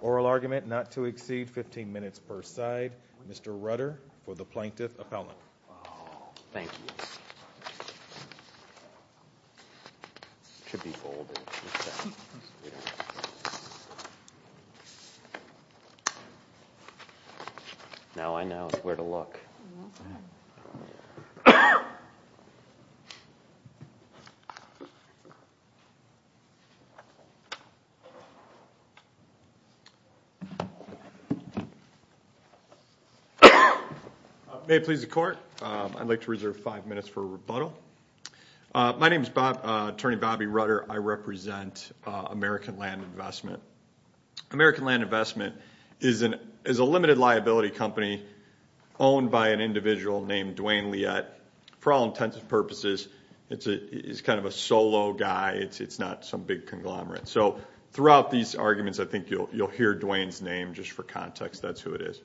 Oral argument not to exceed 15 minutes per side Mr. Rudder for the Plaintiff Appellant. Thank you. Now I know where to look. May it please the Court, I'd like to reserve five minutes for rebuttal. My name is Attorney Bobby Rudder. I represent American Land Investment. American Land Investment is a limited liability company owned by an individual named Dwayne Liett. For all intents and purposes, he's kind of a solo guy. It's not some big conglomerate. So throughout these arguments, I think you'll hear Dwayne's name just for context. That's who it is.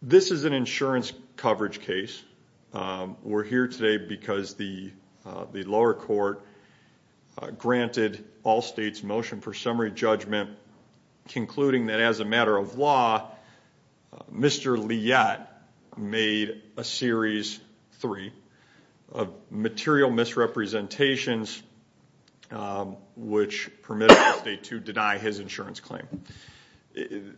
This is an insurance coverage case. We're here today because the lower court granted Allstate's motion for summary judgment, concluding that as a matter of law, Mr. Liett made a series three of material misrepresentations, which permitted Allstate to deny his insurance claim.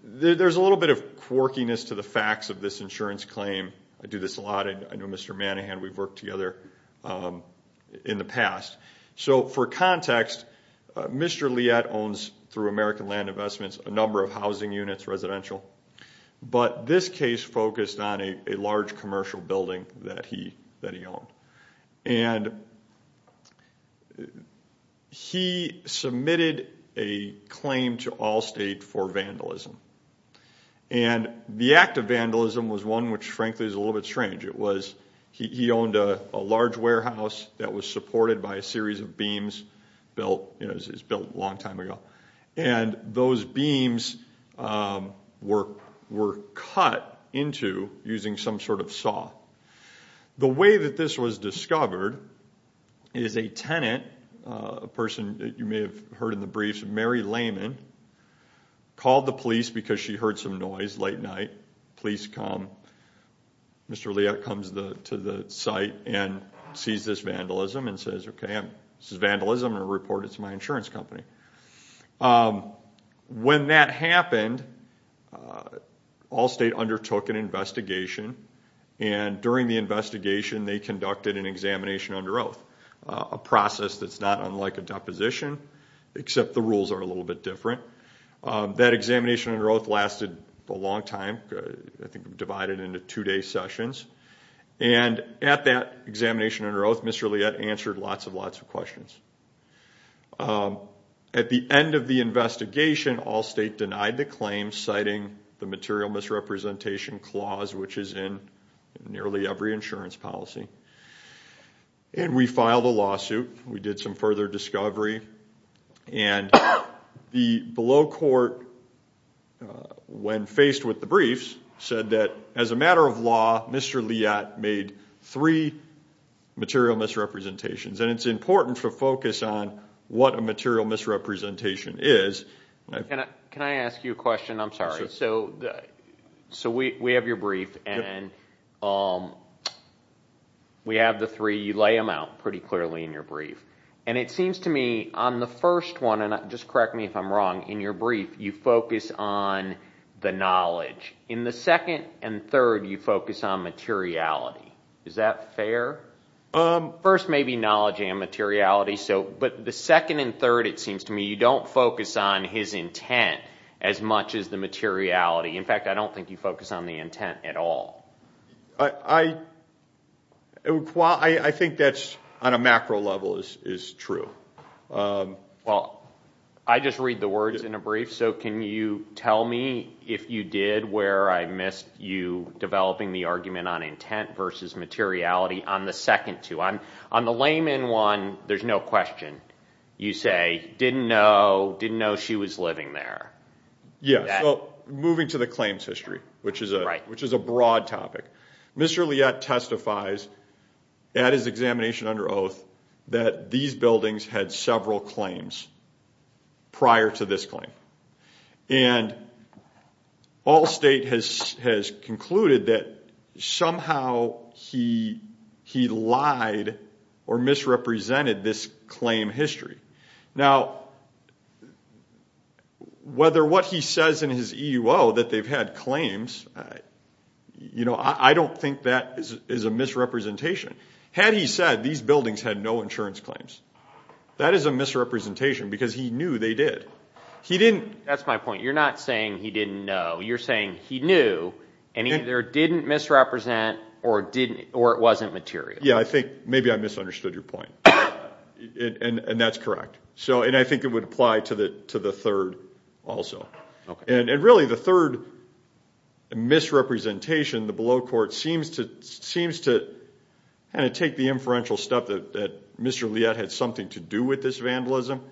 There's a little bit of quirkiness to the facts of this insurance claim. I do this a lot. I know Mr. Manahan. We've worked together in the past. So for context, Mr. Liett owns, through American Land Investments, a number of housing units, residential. But this case focused on a large commercial building that he owned. And he submitted a claim to Allstate for vandalism. And the act of vandalism was one which, frankly, is a little bit strange. It was he owned a large warehouse that was supported by a series of beams built a long time ago. And those beams were cut into using some sort of saw. The way that this was discovered is a tenant, a person that you may have heard in the briefs, Mary Lehman, called the police because she heard some noise late night. Police come. Mr. Liett comes to the site and sees this vandalism and says, OK, this is vandalism. I'm going to report it to my insurance company. When that happened, Allstate undertook an investigation. And during the investigation, they conducted an examination under oath, a process that's not unlike a deposition, except the rules are a little bit different. That examination under oath lasted a long time, I think divided into two-day sessions. And at that examination under oath, Mr. Liett answered lots and lots of questions. At the end of the investigation, Allstate denied the claim, citing the material misrepresentation clause, which is in nearly every insurance policy. And we filed a lawsuit. We did some further discovery. And the below court, when faced with the briefs, said that as a matter of law, Mr. Liett made three material misrepresentations. And it's important to focus on what a material misrepresentation is. Can I ask you a question? I'm sorry. So we have your brief, and we have the three. You lay them out pretty clearly in your brief. And it seems to me on the first one, and just correct me if I'm wrong, in your brief, you focus on the knowledge. In the second and third, you focus on materiality. Is that fair? First, maybe knowledge and materiality. But the second and third, it seems to me, you don't focus on his intent as much as the materiality. In fact, I don't think you focus on the intent at all. I think that's, on a macro level, is true. Well, I just read the words in a brief. So can you tell me, if you did, where I missed you developing the argument on intent versus materiality on the second two? On the layman one, there's no question. You say, didn't know, didn't know she was living there. Yes, well, moving to the claims history, which is a broad topic. Mr. Liette testifies at his examination under oath that these buildings had several claims prior to this claim. And all state has concluded that somehow he lied or misrepresented this claim history. Now, whether what he says in his EUO that they've had claims, I don't think that is a misrepresentation. Had he said these buildings had no insurance claims, that is a misrepresentation because he knew they did. That's my point. You're not saying he didn't know. You're saying he knew and either didn't misrepresent or it wasn't material. Yeah, I think maybe I misunderstood your point. And that's correct. So and I think it would apply to the to the third also. And really the third misrepresentation. The below court seems to seems to kind of take the inferential stuff that Mr. Liette had something to do with this vandalism.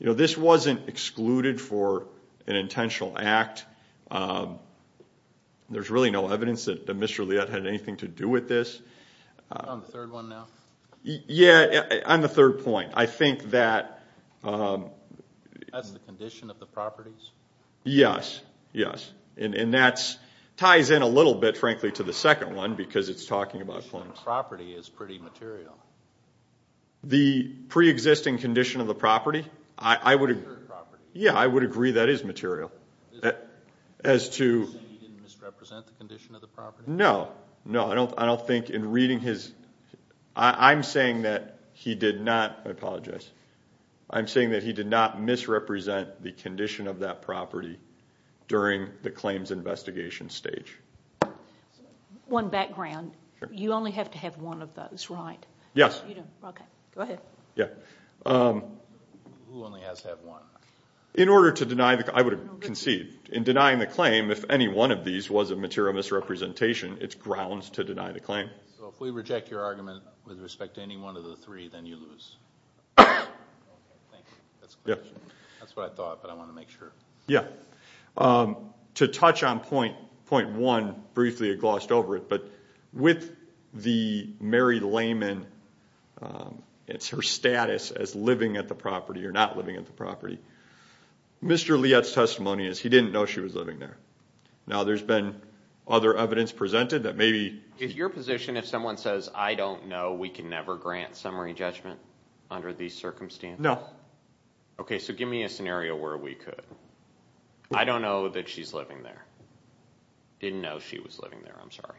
You know, this wasn't excluded for an intentional act. There's really no evidence that Mr. Liette had anything to do with this. On the third one now? Yeah, on the third point, I think that. That's the condition of the properties? Yes, yes. And that ties in a little bit, frankly, to the second one because it's talking about claims. The property is pretty material. The pre-existing condition of the property? Yeah, I would agree that is material. As to misrepresent the condition of the property? No, no, I don't. I don't think in reading his. I'm saying that he did not. I apologize. I'm saying that he did not misrepresent the condition of that property during the claims investigation stage. One background. You only have to have one of those, right? Yes. Go ahead. Yeah. Who only has to have one? In order to deny the claim, I would concede. In denying the claim, if any one of these was a material misrepresentation, it's grounds to deny the claim. So if we reject your argument with respect to any one of the three, then you lose. Okay, thank you. That's a good question. That's what I thought, but I want to make sure. Yeah. To touch on point one briefly, I glossed over it, but with the Mary Lehman, it's her status as living at the property or not living at the property. Mr. Lietz's testimony is he didn't know she was living there. Now, there's been other evidence presented that maybe. Is your position if someone says, I don't know, we can never grant summary judgment under these circumstances? No. Okay, so give me a scenario where we could. I don't know that she's living there. Didn't know she was living there. I'm sorry.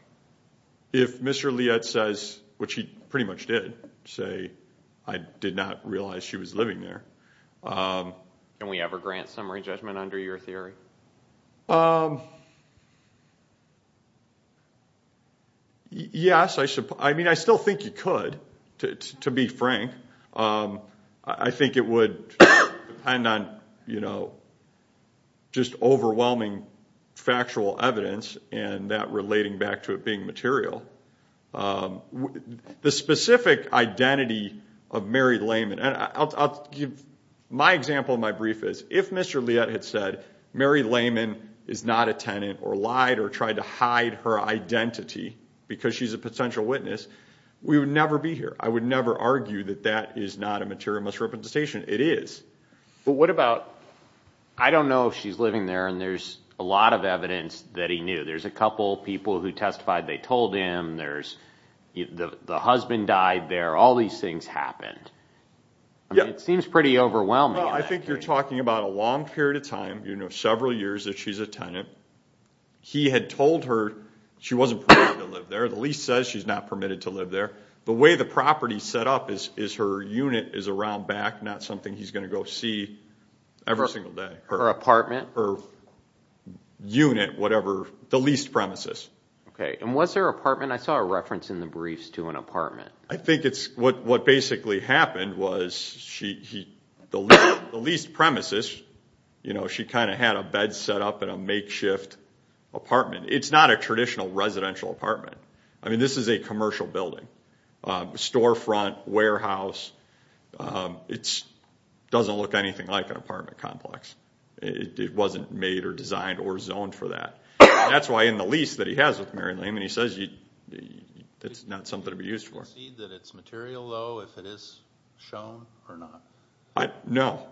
If Mr. Lietz says, which he pretty much did, say, I did not realize she was living there. Can we ever grant summary judgment under your theory? Yes, I mean, I still think you could, to be frank. I think it would depend on, you know, just overwhelming factual evidence and that relating back to it being material. The specific identity of Mary Lehman. My example in my brief is if Mr. Lietz had said Mary Lehman is not a tenant or lied or tried to hide her identity because she's a potential witness, we would never be here. I would never argue that that is not a material misrepresentation. It is. But what about, I don't know if she's living there and there's a lot of evidence that he knew. There's a couple people who testified they told him. There's the husband died there. All these things happened. It seems pretty overwhelming. I think you're talking about a long period of time, you know, several years that she's a tenant. He had told her she wasn't permitted to live there. The lease says she's not permitted to live there. The way the property is set up is her unit is around back, not something he's going to go see every single day. Her apartment? Her unit, whatever, the leased premises. Okay. And was there an apartment? I saw a reference in the briefs to an apartment. I think what basically happened was the leased premises, you know, she kind of had a bed set up in a makeshift apartment. It's not a traditional residential apartment. I mean, this is a commercial building. Storefront, warehouse, it doesn't look anything like an apartment complex. It wasn't made or designed or zoned for that. That's why in the lease that he has with Mary Lane, he says it's not something to be used for. Do you see that it's material, though, if it is shown or not? No.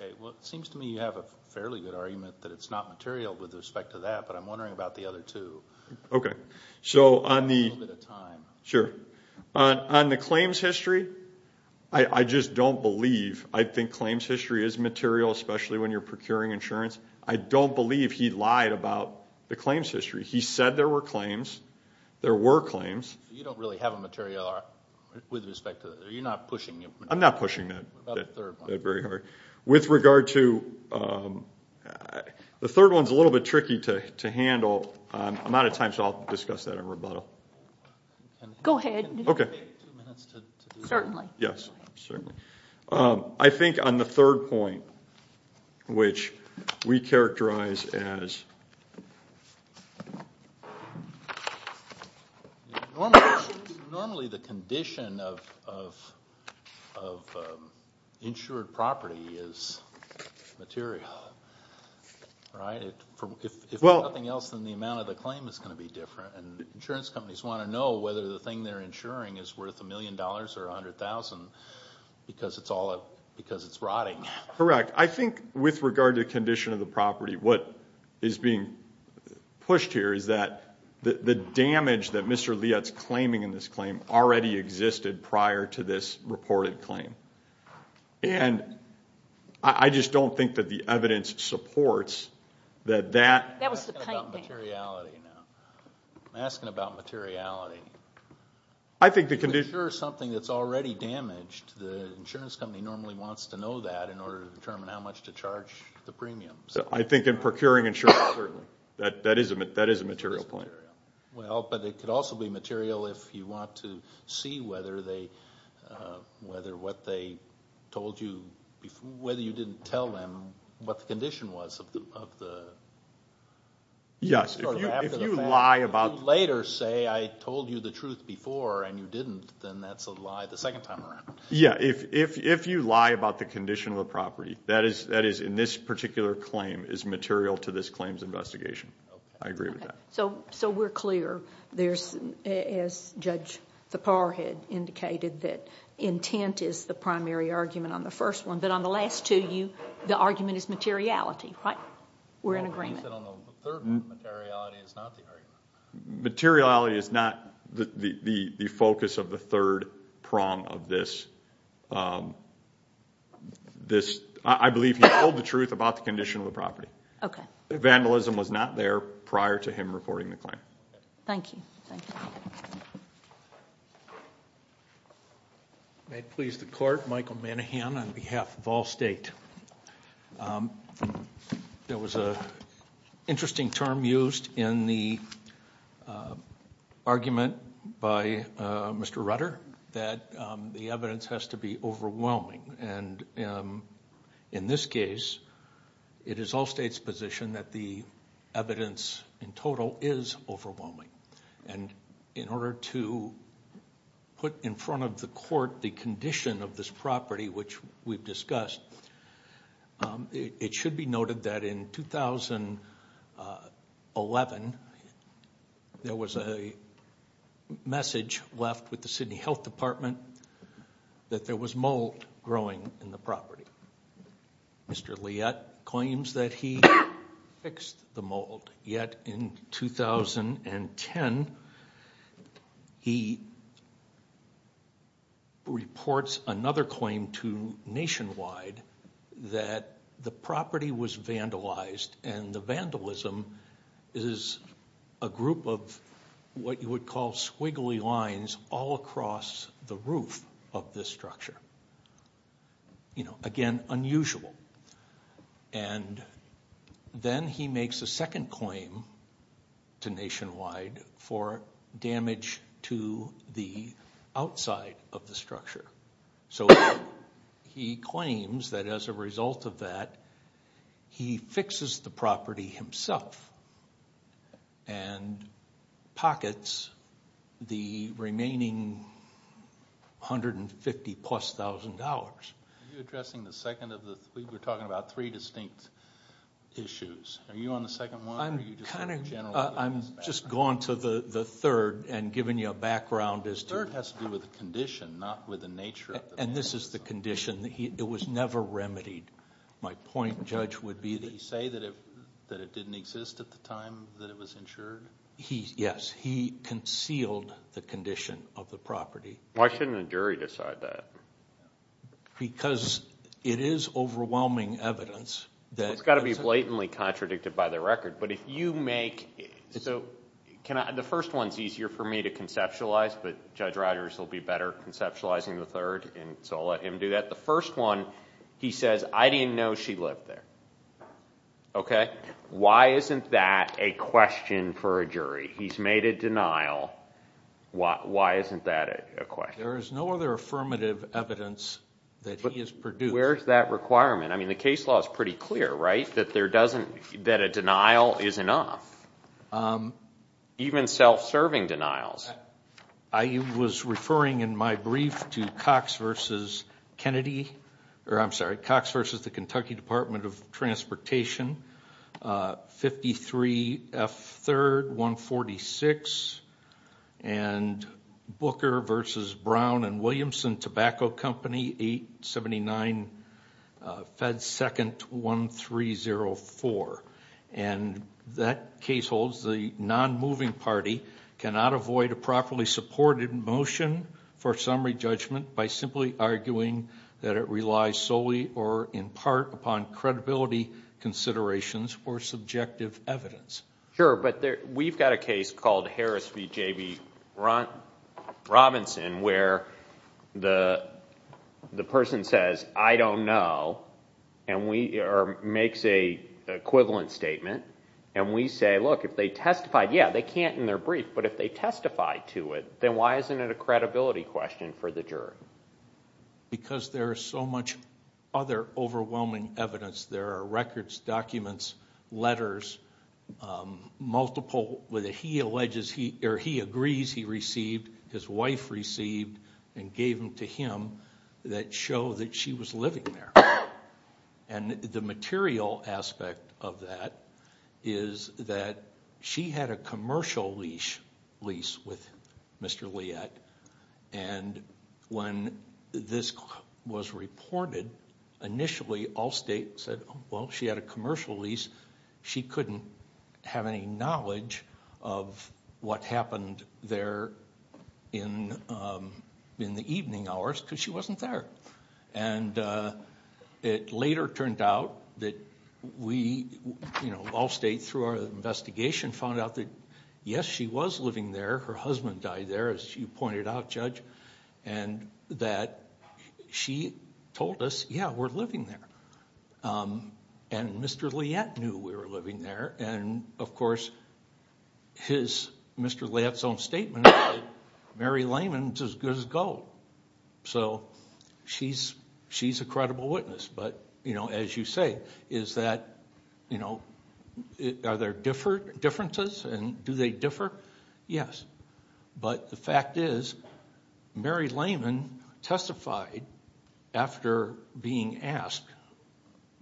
Okay. Well, it seems to me you have a fairly good argument that it's not material with respect to that, but I'm wondering about the other two. Okay. Give me a little bit of time. Sure. On the claims history, I just don't believe I think claims history is material, especially when you're procuring insurance. I don't believe he lied about the claims history. He said there were claims. There were claims. You don't really have a material with respect to that. You're not pushing it? I'm not pushing that very hard. With regard to the third one is a little bit tricky to handle. I'm out of time, so I'll discuss that in rebuttal. Go ahead. Okay. Certainly. Yes. Certainly. I think on the third point, which we characterize as normally the condition of insured property is material, right? If nothing else, then the amount of the claim is going to be different. Insurance companies want to know whether the thing they're insuring is worth $1 million or $100,000 because it's rotting. Correct. I think with regard to the condition of the property, what is being pushed here is that the damage that Mr. Lietz claiming in this claim already existed prior to this reported claim. And I just don't think that the evidence supports that that. That was the point. I'm asking about materiality now. I'm asking about materiality. If you insure something that's already damaged, the insurance company normally wants to know that in order to determine how much to charge the premiums. I think in procuring insurance, that is a material claim. Well, but it could also be material if you want to see whether what they told you, whether you didn't tell them what the condition was of the Yes. If you lie about Later say I told you the truth before and you didn't, then that's a lie the second time around. Yeah. If you lie about the condition of the property, that is in this particular claim is material to this claims investigation. I agree with that. So we're clear there's, as Judge Thapar had indicated, that intent is the primary argument on the first one. But on the last two, the argument is materiality, right? We're in agreement. Materiality is not the focus of the third prong of this. I believe he told the truth about the condition of the property. Okay. Vandalism was not there prior to him reporting the claim. Thank you. May it please the court, Michael Manahan on behalf of all state. There was a interesting term used in the argument by Mr. Rutter that the evidence has to be overwhelming. And in this case, it is all state's position that the evidence in total is overwhelming. And in order to put in front of the court the condition of this property, which we've discussed, it should be noted that in 2011, there was a message left with the Sydney Health Department that there was mold growing in the property. Mr. Liet claims that he fixed the mold. Yet in 2010, he reports another claim to Nationwide that the property was vandalized and the vandalism is a group of what you would call squiggly lines all across the roof of this structure. Again, unusual. And then he makes a second claim to Nationwide for damage to the outside of the structure. So he claims that as a result of that, he fixes the property himself and pockets the remaining $150,000 plus. We were talking about three distinct issues. Are you on the second one? I'm just going to the third and giving you a background. The third has to do with the condition, not with the nature of the property. And this is the condition. It was never remedied. My point, Judge, would be that... Did he say that it didn't exist at the time that it was insured? Yes. He concealed the condition of the property. Why shouldn't a jury decide that? Because it is overwhelming evidence. It's got to be blatantly contradicted by the record. The first one is easier for me to conceptualize, but Judge Rodgers will be better at conceptualizing the third. So I'll let him do that. The first one, he says, I didn't know she lived there. Why isn't that a question for a jury? He's made a denial. Why isn't that a question? There is no other affirmative evidence that he has produced. Where is that requirement? I mean, the case law is pretty clear, right? That a denial is enough. Even self-serving denials. I was referring in my brief to Cox v. Kennedy... I'm sorry, Cox v. The Kentucky Department of Transportation, 53 F. 3rd, 146. And Booker v. Brown & Williamson Tobacco Company, 879 F. 2nd, 1304. And that case holds the non-moving party cannot avoid a properly supported motion for summary judgment by simply arguing that it relies solely or in part upon credibility considerations or subjective evidence. Sure, but we've got a case called Harris v. J.B. Robinson where the person says, I don't know, or makes an equivalent statement, and we say, look, if they testified, yeah, they can't in their brief, but if they testified to it, then why isn't it a credibility question for the jury? Because there is so much other overwhelming evidence. There are records, documents, letters, multiple, whether he alleges or he agrees he received, his wife received, and gave them to him that show that she was living there. And the material aspect of that is that she had a commercial lease with Mr. Liet, and when this was reported, initially Allstate said, well, she had a commercial lease. She couldn't have any knowledge of what happened there in the evening hours because she wasn't there. And it later turned out that we, you know, Allstate, through our investigation, found out that, yes, she was living there. Her husband died there, as you pointed out, Judge, and that she told us, yeah, we're living there. And Mr. Liet knew we were living there. And, of course, Mr. Liet's own statement is that Mary Lehman is as good as gold. So she's a credible witness. But, you know, as you say, is that, you know, are there differences, and do they differ? Yes. But the fact is Mary Lehman testified after being asked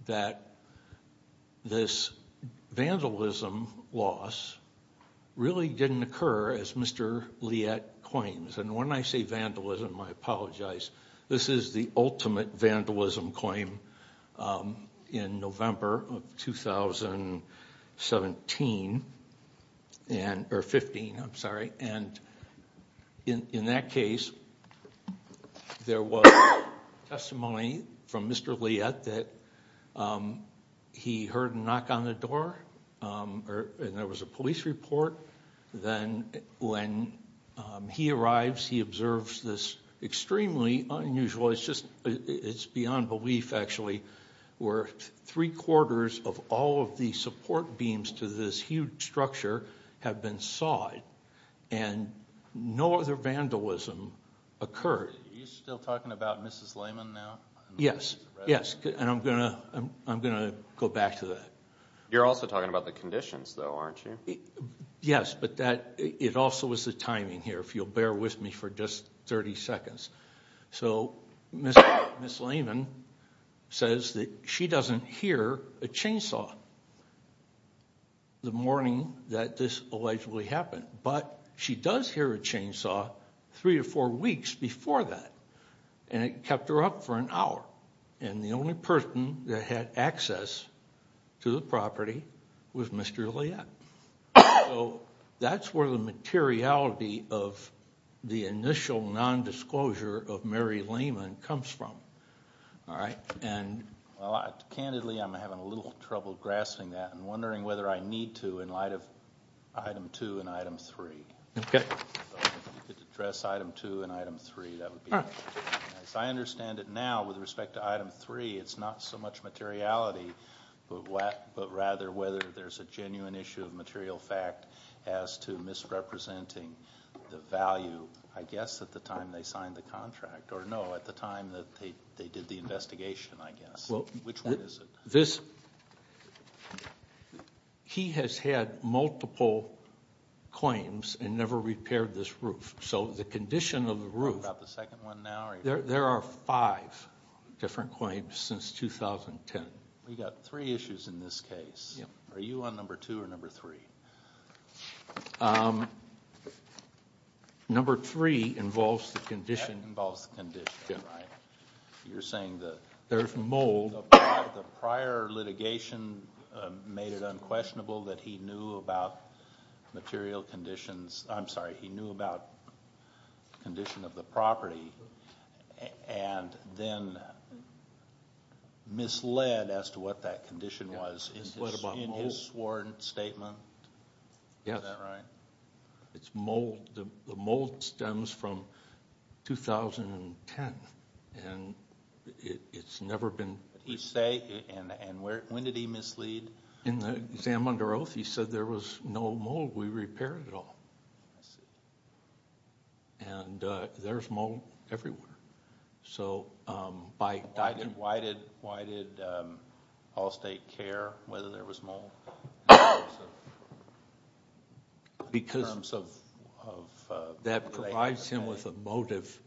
that this vandalism loss really didn't occur, as Mr. Liet claims. And when I say vandalism, I apologize. This is the ultimate vandalism claim in November of 2017, or 15, I'm sorry. And in that case, there was testimony from Mr. Liet that he heard a knock on the door, and there was a police report. Then when he arrives, he observes this extremely unusual, it's beyond belief, actually, where three-quarters of all of the support beams to this huge structure have been sawed. And no other vandalism occurred. Are you still talking about Mrs. Lehman now? Yes, yes, and I'm going to go back to that. You're also talking about the conditions, though, aren't you? Yes, but it also is the timing here, if you'll bear with me for just 30 seconds. So Mrs. Lehman says that she doesn't hear a chainsaw the morning that this allegedly happened, but she does hear a chainsaw three or four weeks before that, and it kept her up for an hour. And the only person that had access to the property was Mr. Liet. So that's where the materiality of the initial nondisclosure of Mary Lehman comes from. Candidly, I'm having a little trouble grasping that and wondering whether I need to in light of Item 2 and Item 3. If you could address Item 2 and Item 3, that would be nice. I understand that now, with respect to Item 3, it's not so much materiality, but rather whether there's a genuine issue of material fact as to misrepresenting the value, I guess, at the time they signed the contract. Or no, at the time that they did the investigation, I guess. Which one is it? He has had multiple claims and never repaired this roof. So the condition of the roof, there are five different claims since 2010. We've got three issues in this case. Are you on number two or number three? Number three involves the condition. That involves the condition, right? You're saying that the prior litigation made it unquestionable that he knew about material conditions. I'm sorry, he knew about the condition of the property and then misled as to what that condition was in his sworn statement? Yes. Is that right? It's mold. The mold stems from 2010, and it's never been repaired. When did he mislead? In the exam under oath he said there was no mold. We repaired it all. And there's mold everywhere. Why did Allstate care whether there was mold? Because that provides him with a motive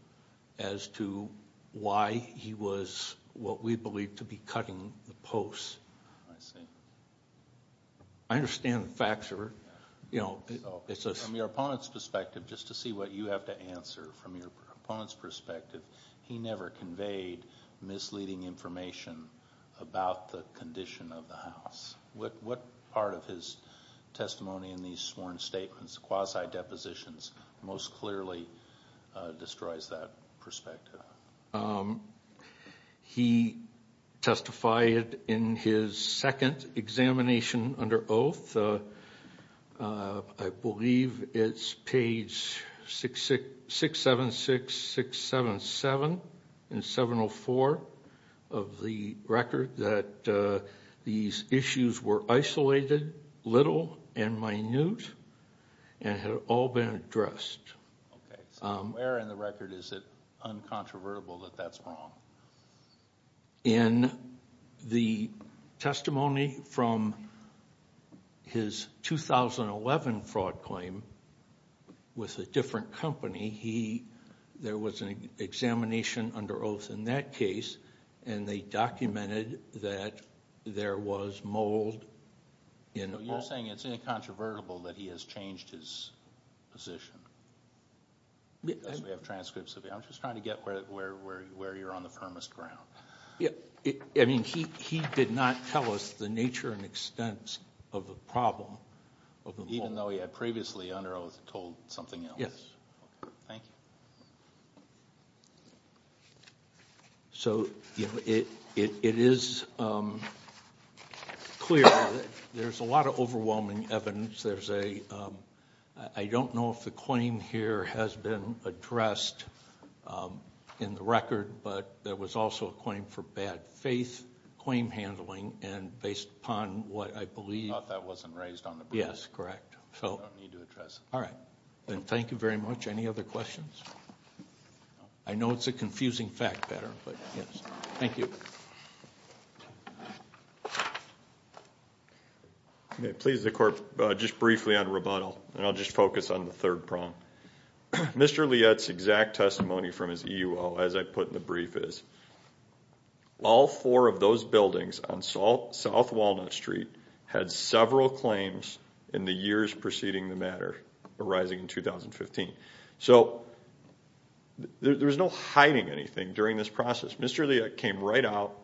as to why he was what we believe to be cutting the posts. I see. I understand the facts. From your opponent's perspective, just to see what you have to answer from your opponent's perspective, he never conveyed misleading information about the condition of the house. What part of his testimony in these sworn statements, quasi-depositions, most clearly destroys that perspective? He testified in his second examination under oath, I believe it's page 676, 677, and 704 of the record, that these issues were isolated, little, and minute, and had all been addressed. Okay. Where in the record is it uncontrovertible that that's wrong? In the testimony from his 2011 fraud claim with a different company, there was an examination under oath in that case, and they documented that there was mold. So you're saying it's incontrovertible that he has changed his position? We have transcripts of it. I'm just trying to get where you're on the firmest ground. I mean, he did not tell us the nature and extent of the problem of the mold. Even though he had previously, under oath, told something else. Yes. Thank you. So it is clear that there's a lot of overwhelming evidence. I don't know if the claim here has been addressed in the record, but there was also a claim for bad faith claim handling, and based upon what I believe— I thought that wasn't raised on the board. Yes, correct. I don't need to address it. All right. Then thank you very much. Any other questions? I know it's a confusing fact pattern, but yes. Thank you. Please, the Court, just briefly on rebuttal, and I'll just focus on the third prong. Mr. Lietz's exact testimony from his EUL, as I put in the brief, is, all four of those buildings on South Walnut Street had several claims in the years preceding the matter arising in 2015. So there was no hiding anything during this process. Mr. Lietz came right out.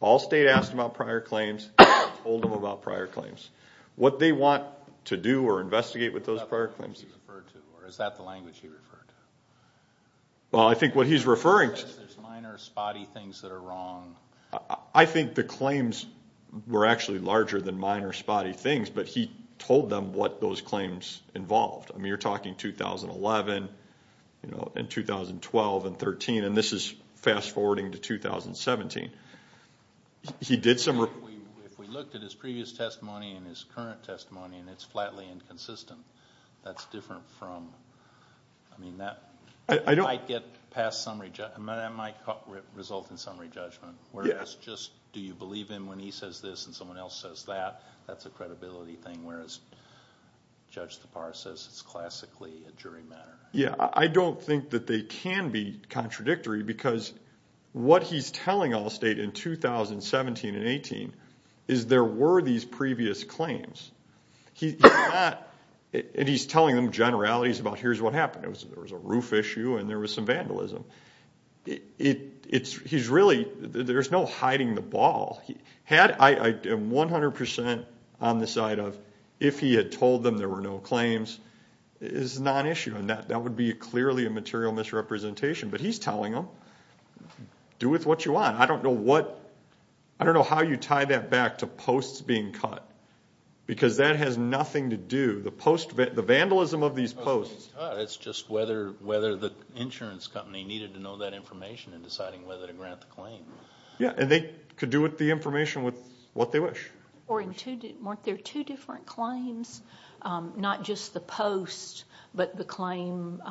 All state asked him about prior claims. He told them about prior claims. What they want to do or investigate with those prior claims— Is that what he referred to, or is that the language he referred to? Well, I think what he's referring to— He says there's minor spotty things that are wrong. I think the claims were actually larger than minor spotty things, but he told them what those claims involved. I mean, you're talking 2011 and 2012 and 2013, and this is fast-forwarding to 2017. If we looked at his previous testimony and his current testimony, and it's flatly inconsistent, that's different from— It might result in summary judgment, whereas just do you believe him when he says this and someone else says that? That's a credibility thing, whereas Judge Tapar says it's classically a jury matter. Yeah, I don't think that they can be contradictory because what he's telling all state in 2017 and 2018 is there were these previous claims. He's not—and he's telling them generalities about here's what happened. There was a roof issue and there was some vandalism. He's really—there's no hiding the ball. I am 100% on the side of if he had told them there were no claims, it's non-issue, and that would be clearly a material misrepresentation. But he's telling them do with what you want. I don't know what—I don't know how you tie that back to posts being cut because that has nothing to do—the vandalism of these posts— It's just whether the insurance company needed to know that information in deciding whether to grant the claim. Yeah, and they could do with the information with what they wish. Weren't there two different claims? Not just the post but the claim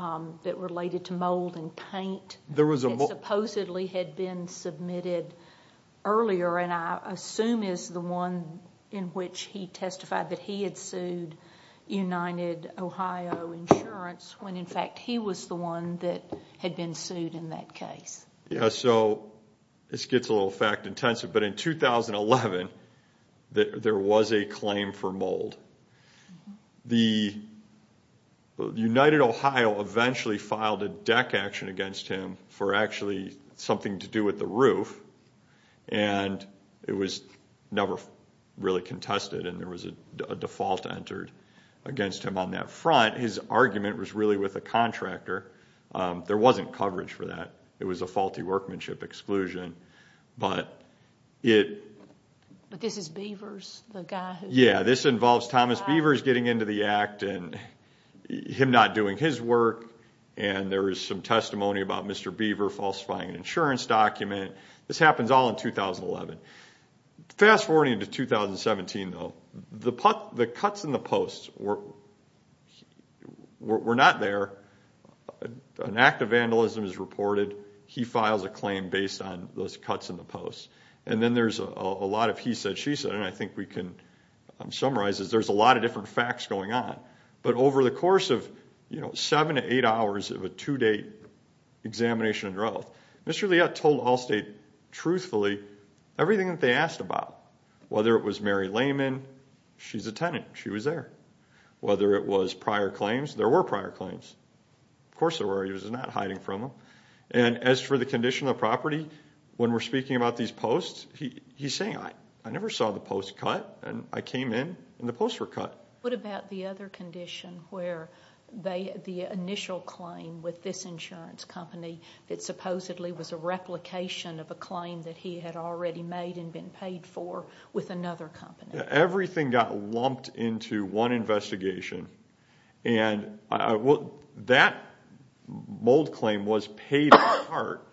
that related to mold and paint that supposedly had been submitted earlier and I assume is the one in which he testified that he had sued United Ohio Insurance when, in fact, he was the one that had been sued in that case. Yeah, so this gets a little fact-intensive, but in 2011, there was a claim for mold. The—United Ohio eventually filed a deck action against him for actually something to do with the roof, and it was never really contested and there was a default entered against him on that front. His argument was really with a contractor. There wasn't coverage for that. It was a faulty workmanship exclusion, but it— But this is Beavers, the guy who— Yeah, this involves Thomas Beavers getting into the act and him not doing his work, and there is some testimony about Mr. Beaver falsifying an insurance document. This happens all in 2011. Fast-forwarding to 2017, though, the cuts in the post were not there. An act of vandalism is reported. He files a claim based on those cuts in the post. And then there's a lot of he said, she said, and I think we can summarize this. There's a lot of different facts going on. But over the course of seven to eight hours of a two-day examination of growth, Mr. Leott told Allstate truthfully everything that they asked about, whether it was Mary Lehman, she's a tenant, she was there. Whether it was prior claims, there were prior claims. Of course there were. He was not hiding from them. And as for the condition of the property, when we're speaking about these posts, he's saying, I never saw the post cut, and I came in and the posts were cut. What about the other condition where the initial claim with this insurance company that supposedly was a replication of a claim that he had already made and been paid for with another company? Everything got lumped into one investigation. And that mold claim was paid in part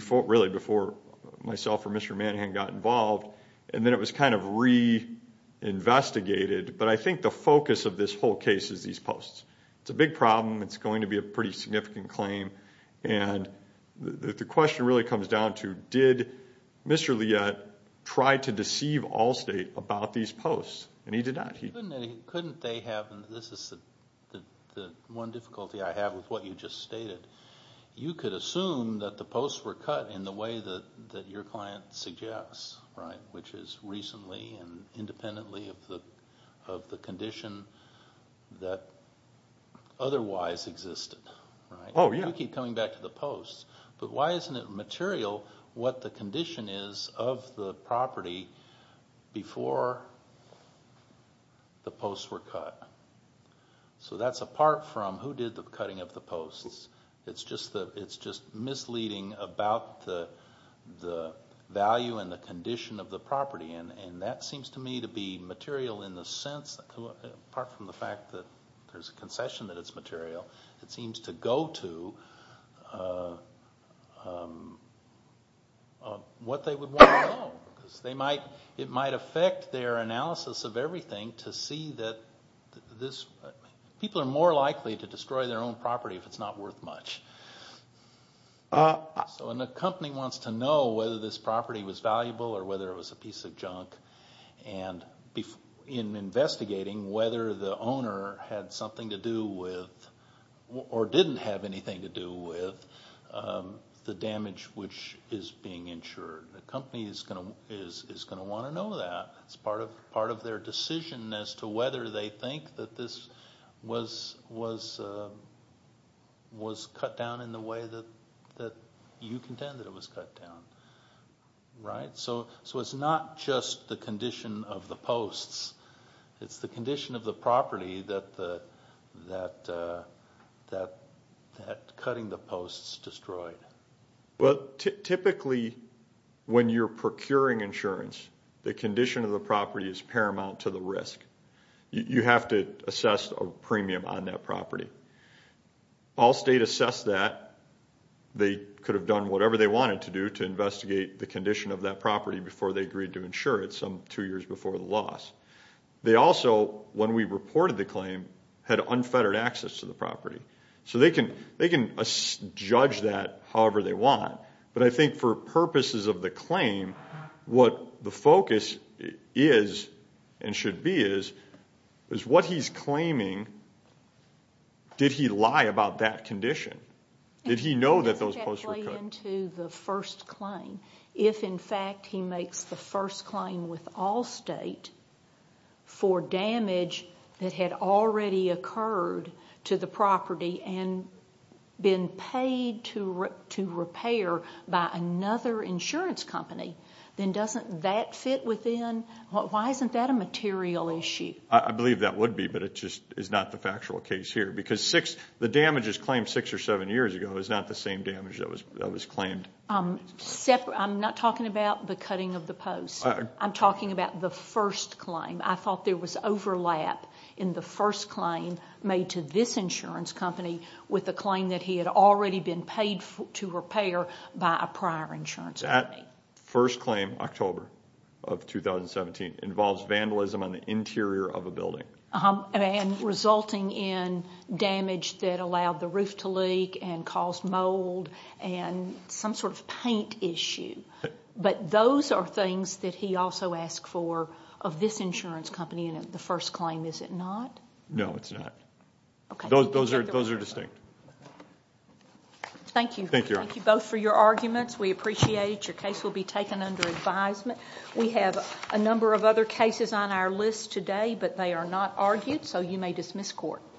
really before myself or Mr. Manahan got involved, and then it was kind of reinvestigated. But I think the focus of this whole case is these posts. It's a big problem. It's going to be a pretty significant claim. And the question really comes down to, did Mr. Leott try to deceive Allstate about these posts? And he did not. Couldn't they have, and this is the one difficulty I have with what you just stated, you could assume that the posts were cut in the way that your client suggests, right, which is recently and independently of the condition that otherwise existed, right? You keep coming back to the posts, but why isn't it material what the condition is of the property before the posts were cut? So that's apart from who did the cutting of the posts. It's just misleading about the value and the condition of the property, and that seems to me to be material in the sense, apart from the fact that there's a concession that it's material, it seems to go to what they would want to know. It might affect their analysis of everything to see that this – they're more likely to destroy their own property if it's not worth much. So a company wants to know whether this property was valuable or whether it was a piece of junk, and in investigating whether the owner had something to do with or didn't have anything to do with the damage which is being insured. The company is going to want to know that. It's part of their decision as to whether they think that this was cut down in the way that you contend that it was cut down, right? So it's not just the condition of the posts. It's the condition of the property that cutting the posts destroyed. Well, typically when you're procuring insurance, the condition of the property is paramount to the risk. You have to assess a premium on that property. Allstate assessed that. They could have done whatever they wanted to do to investigate the condition of that property before they agreed to insure it some two years before the loss. They also, when we reported the claim, had unfettered access to the property. So they can judge that however they want, but I think for purposes of the claim, what the focus is and should be is, is what he's claiming, did he lie about that condition? Did he know that those posts were cut? It doesn't get laid into the first claim. If, in fact, he makes the first claim with Allstate for damage that had already occurred to the property and been paid to repair by another insurance company, then doesn't that fit within? Why isn't that a material issue? I believe that would be, but it just is not the factual case here because the damages claimed six or seven years ago is not the same damage that was claimed. I'm not talking about the cutting of the posts. I'm talking about the first claim. I thought there was overlap in the first claim made to this insurance company with the claim that he had already been paid to repair by a prior insurance company. That first claim, October of 2017, involves vandalism on the interior of a building. And resulting in damage that allowed the roof to leak and caused mold and some sort of paint issue. But those are things that he also asked for of this insurance company and the first claim, is it not? No, it's not. Those are distinct. Thank you. Thank you both for your arguments. We appreciate it. Your case will be taken under advisement. We have a number of other cases on our list today, but they are not argued, so you may dismiss court.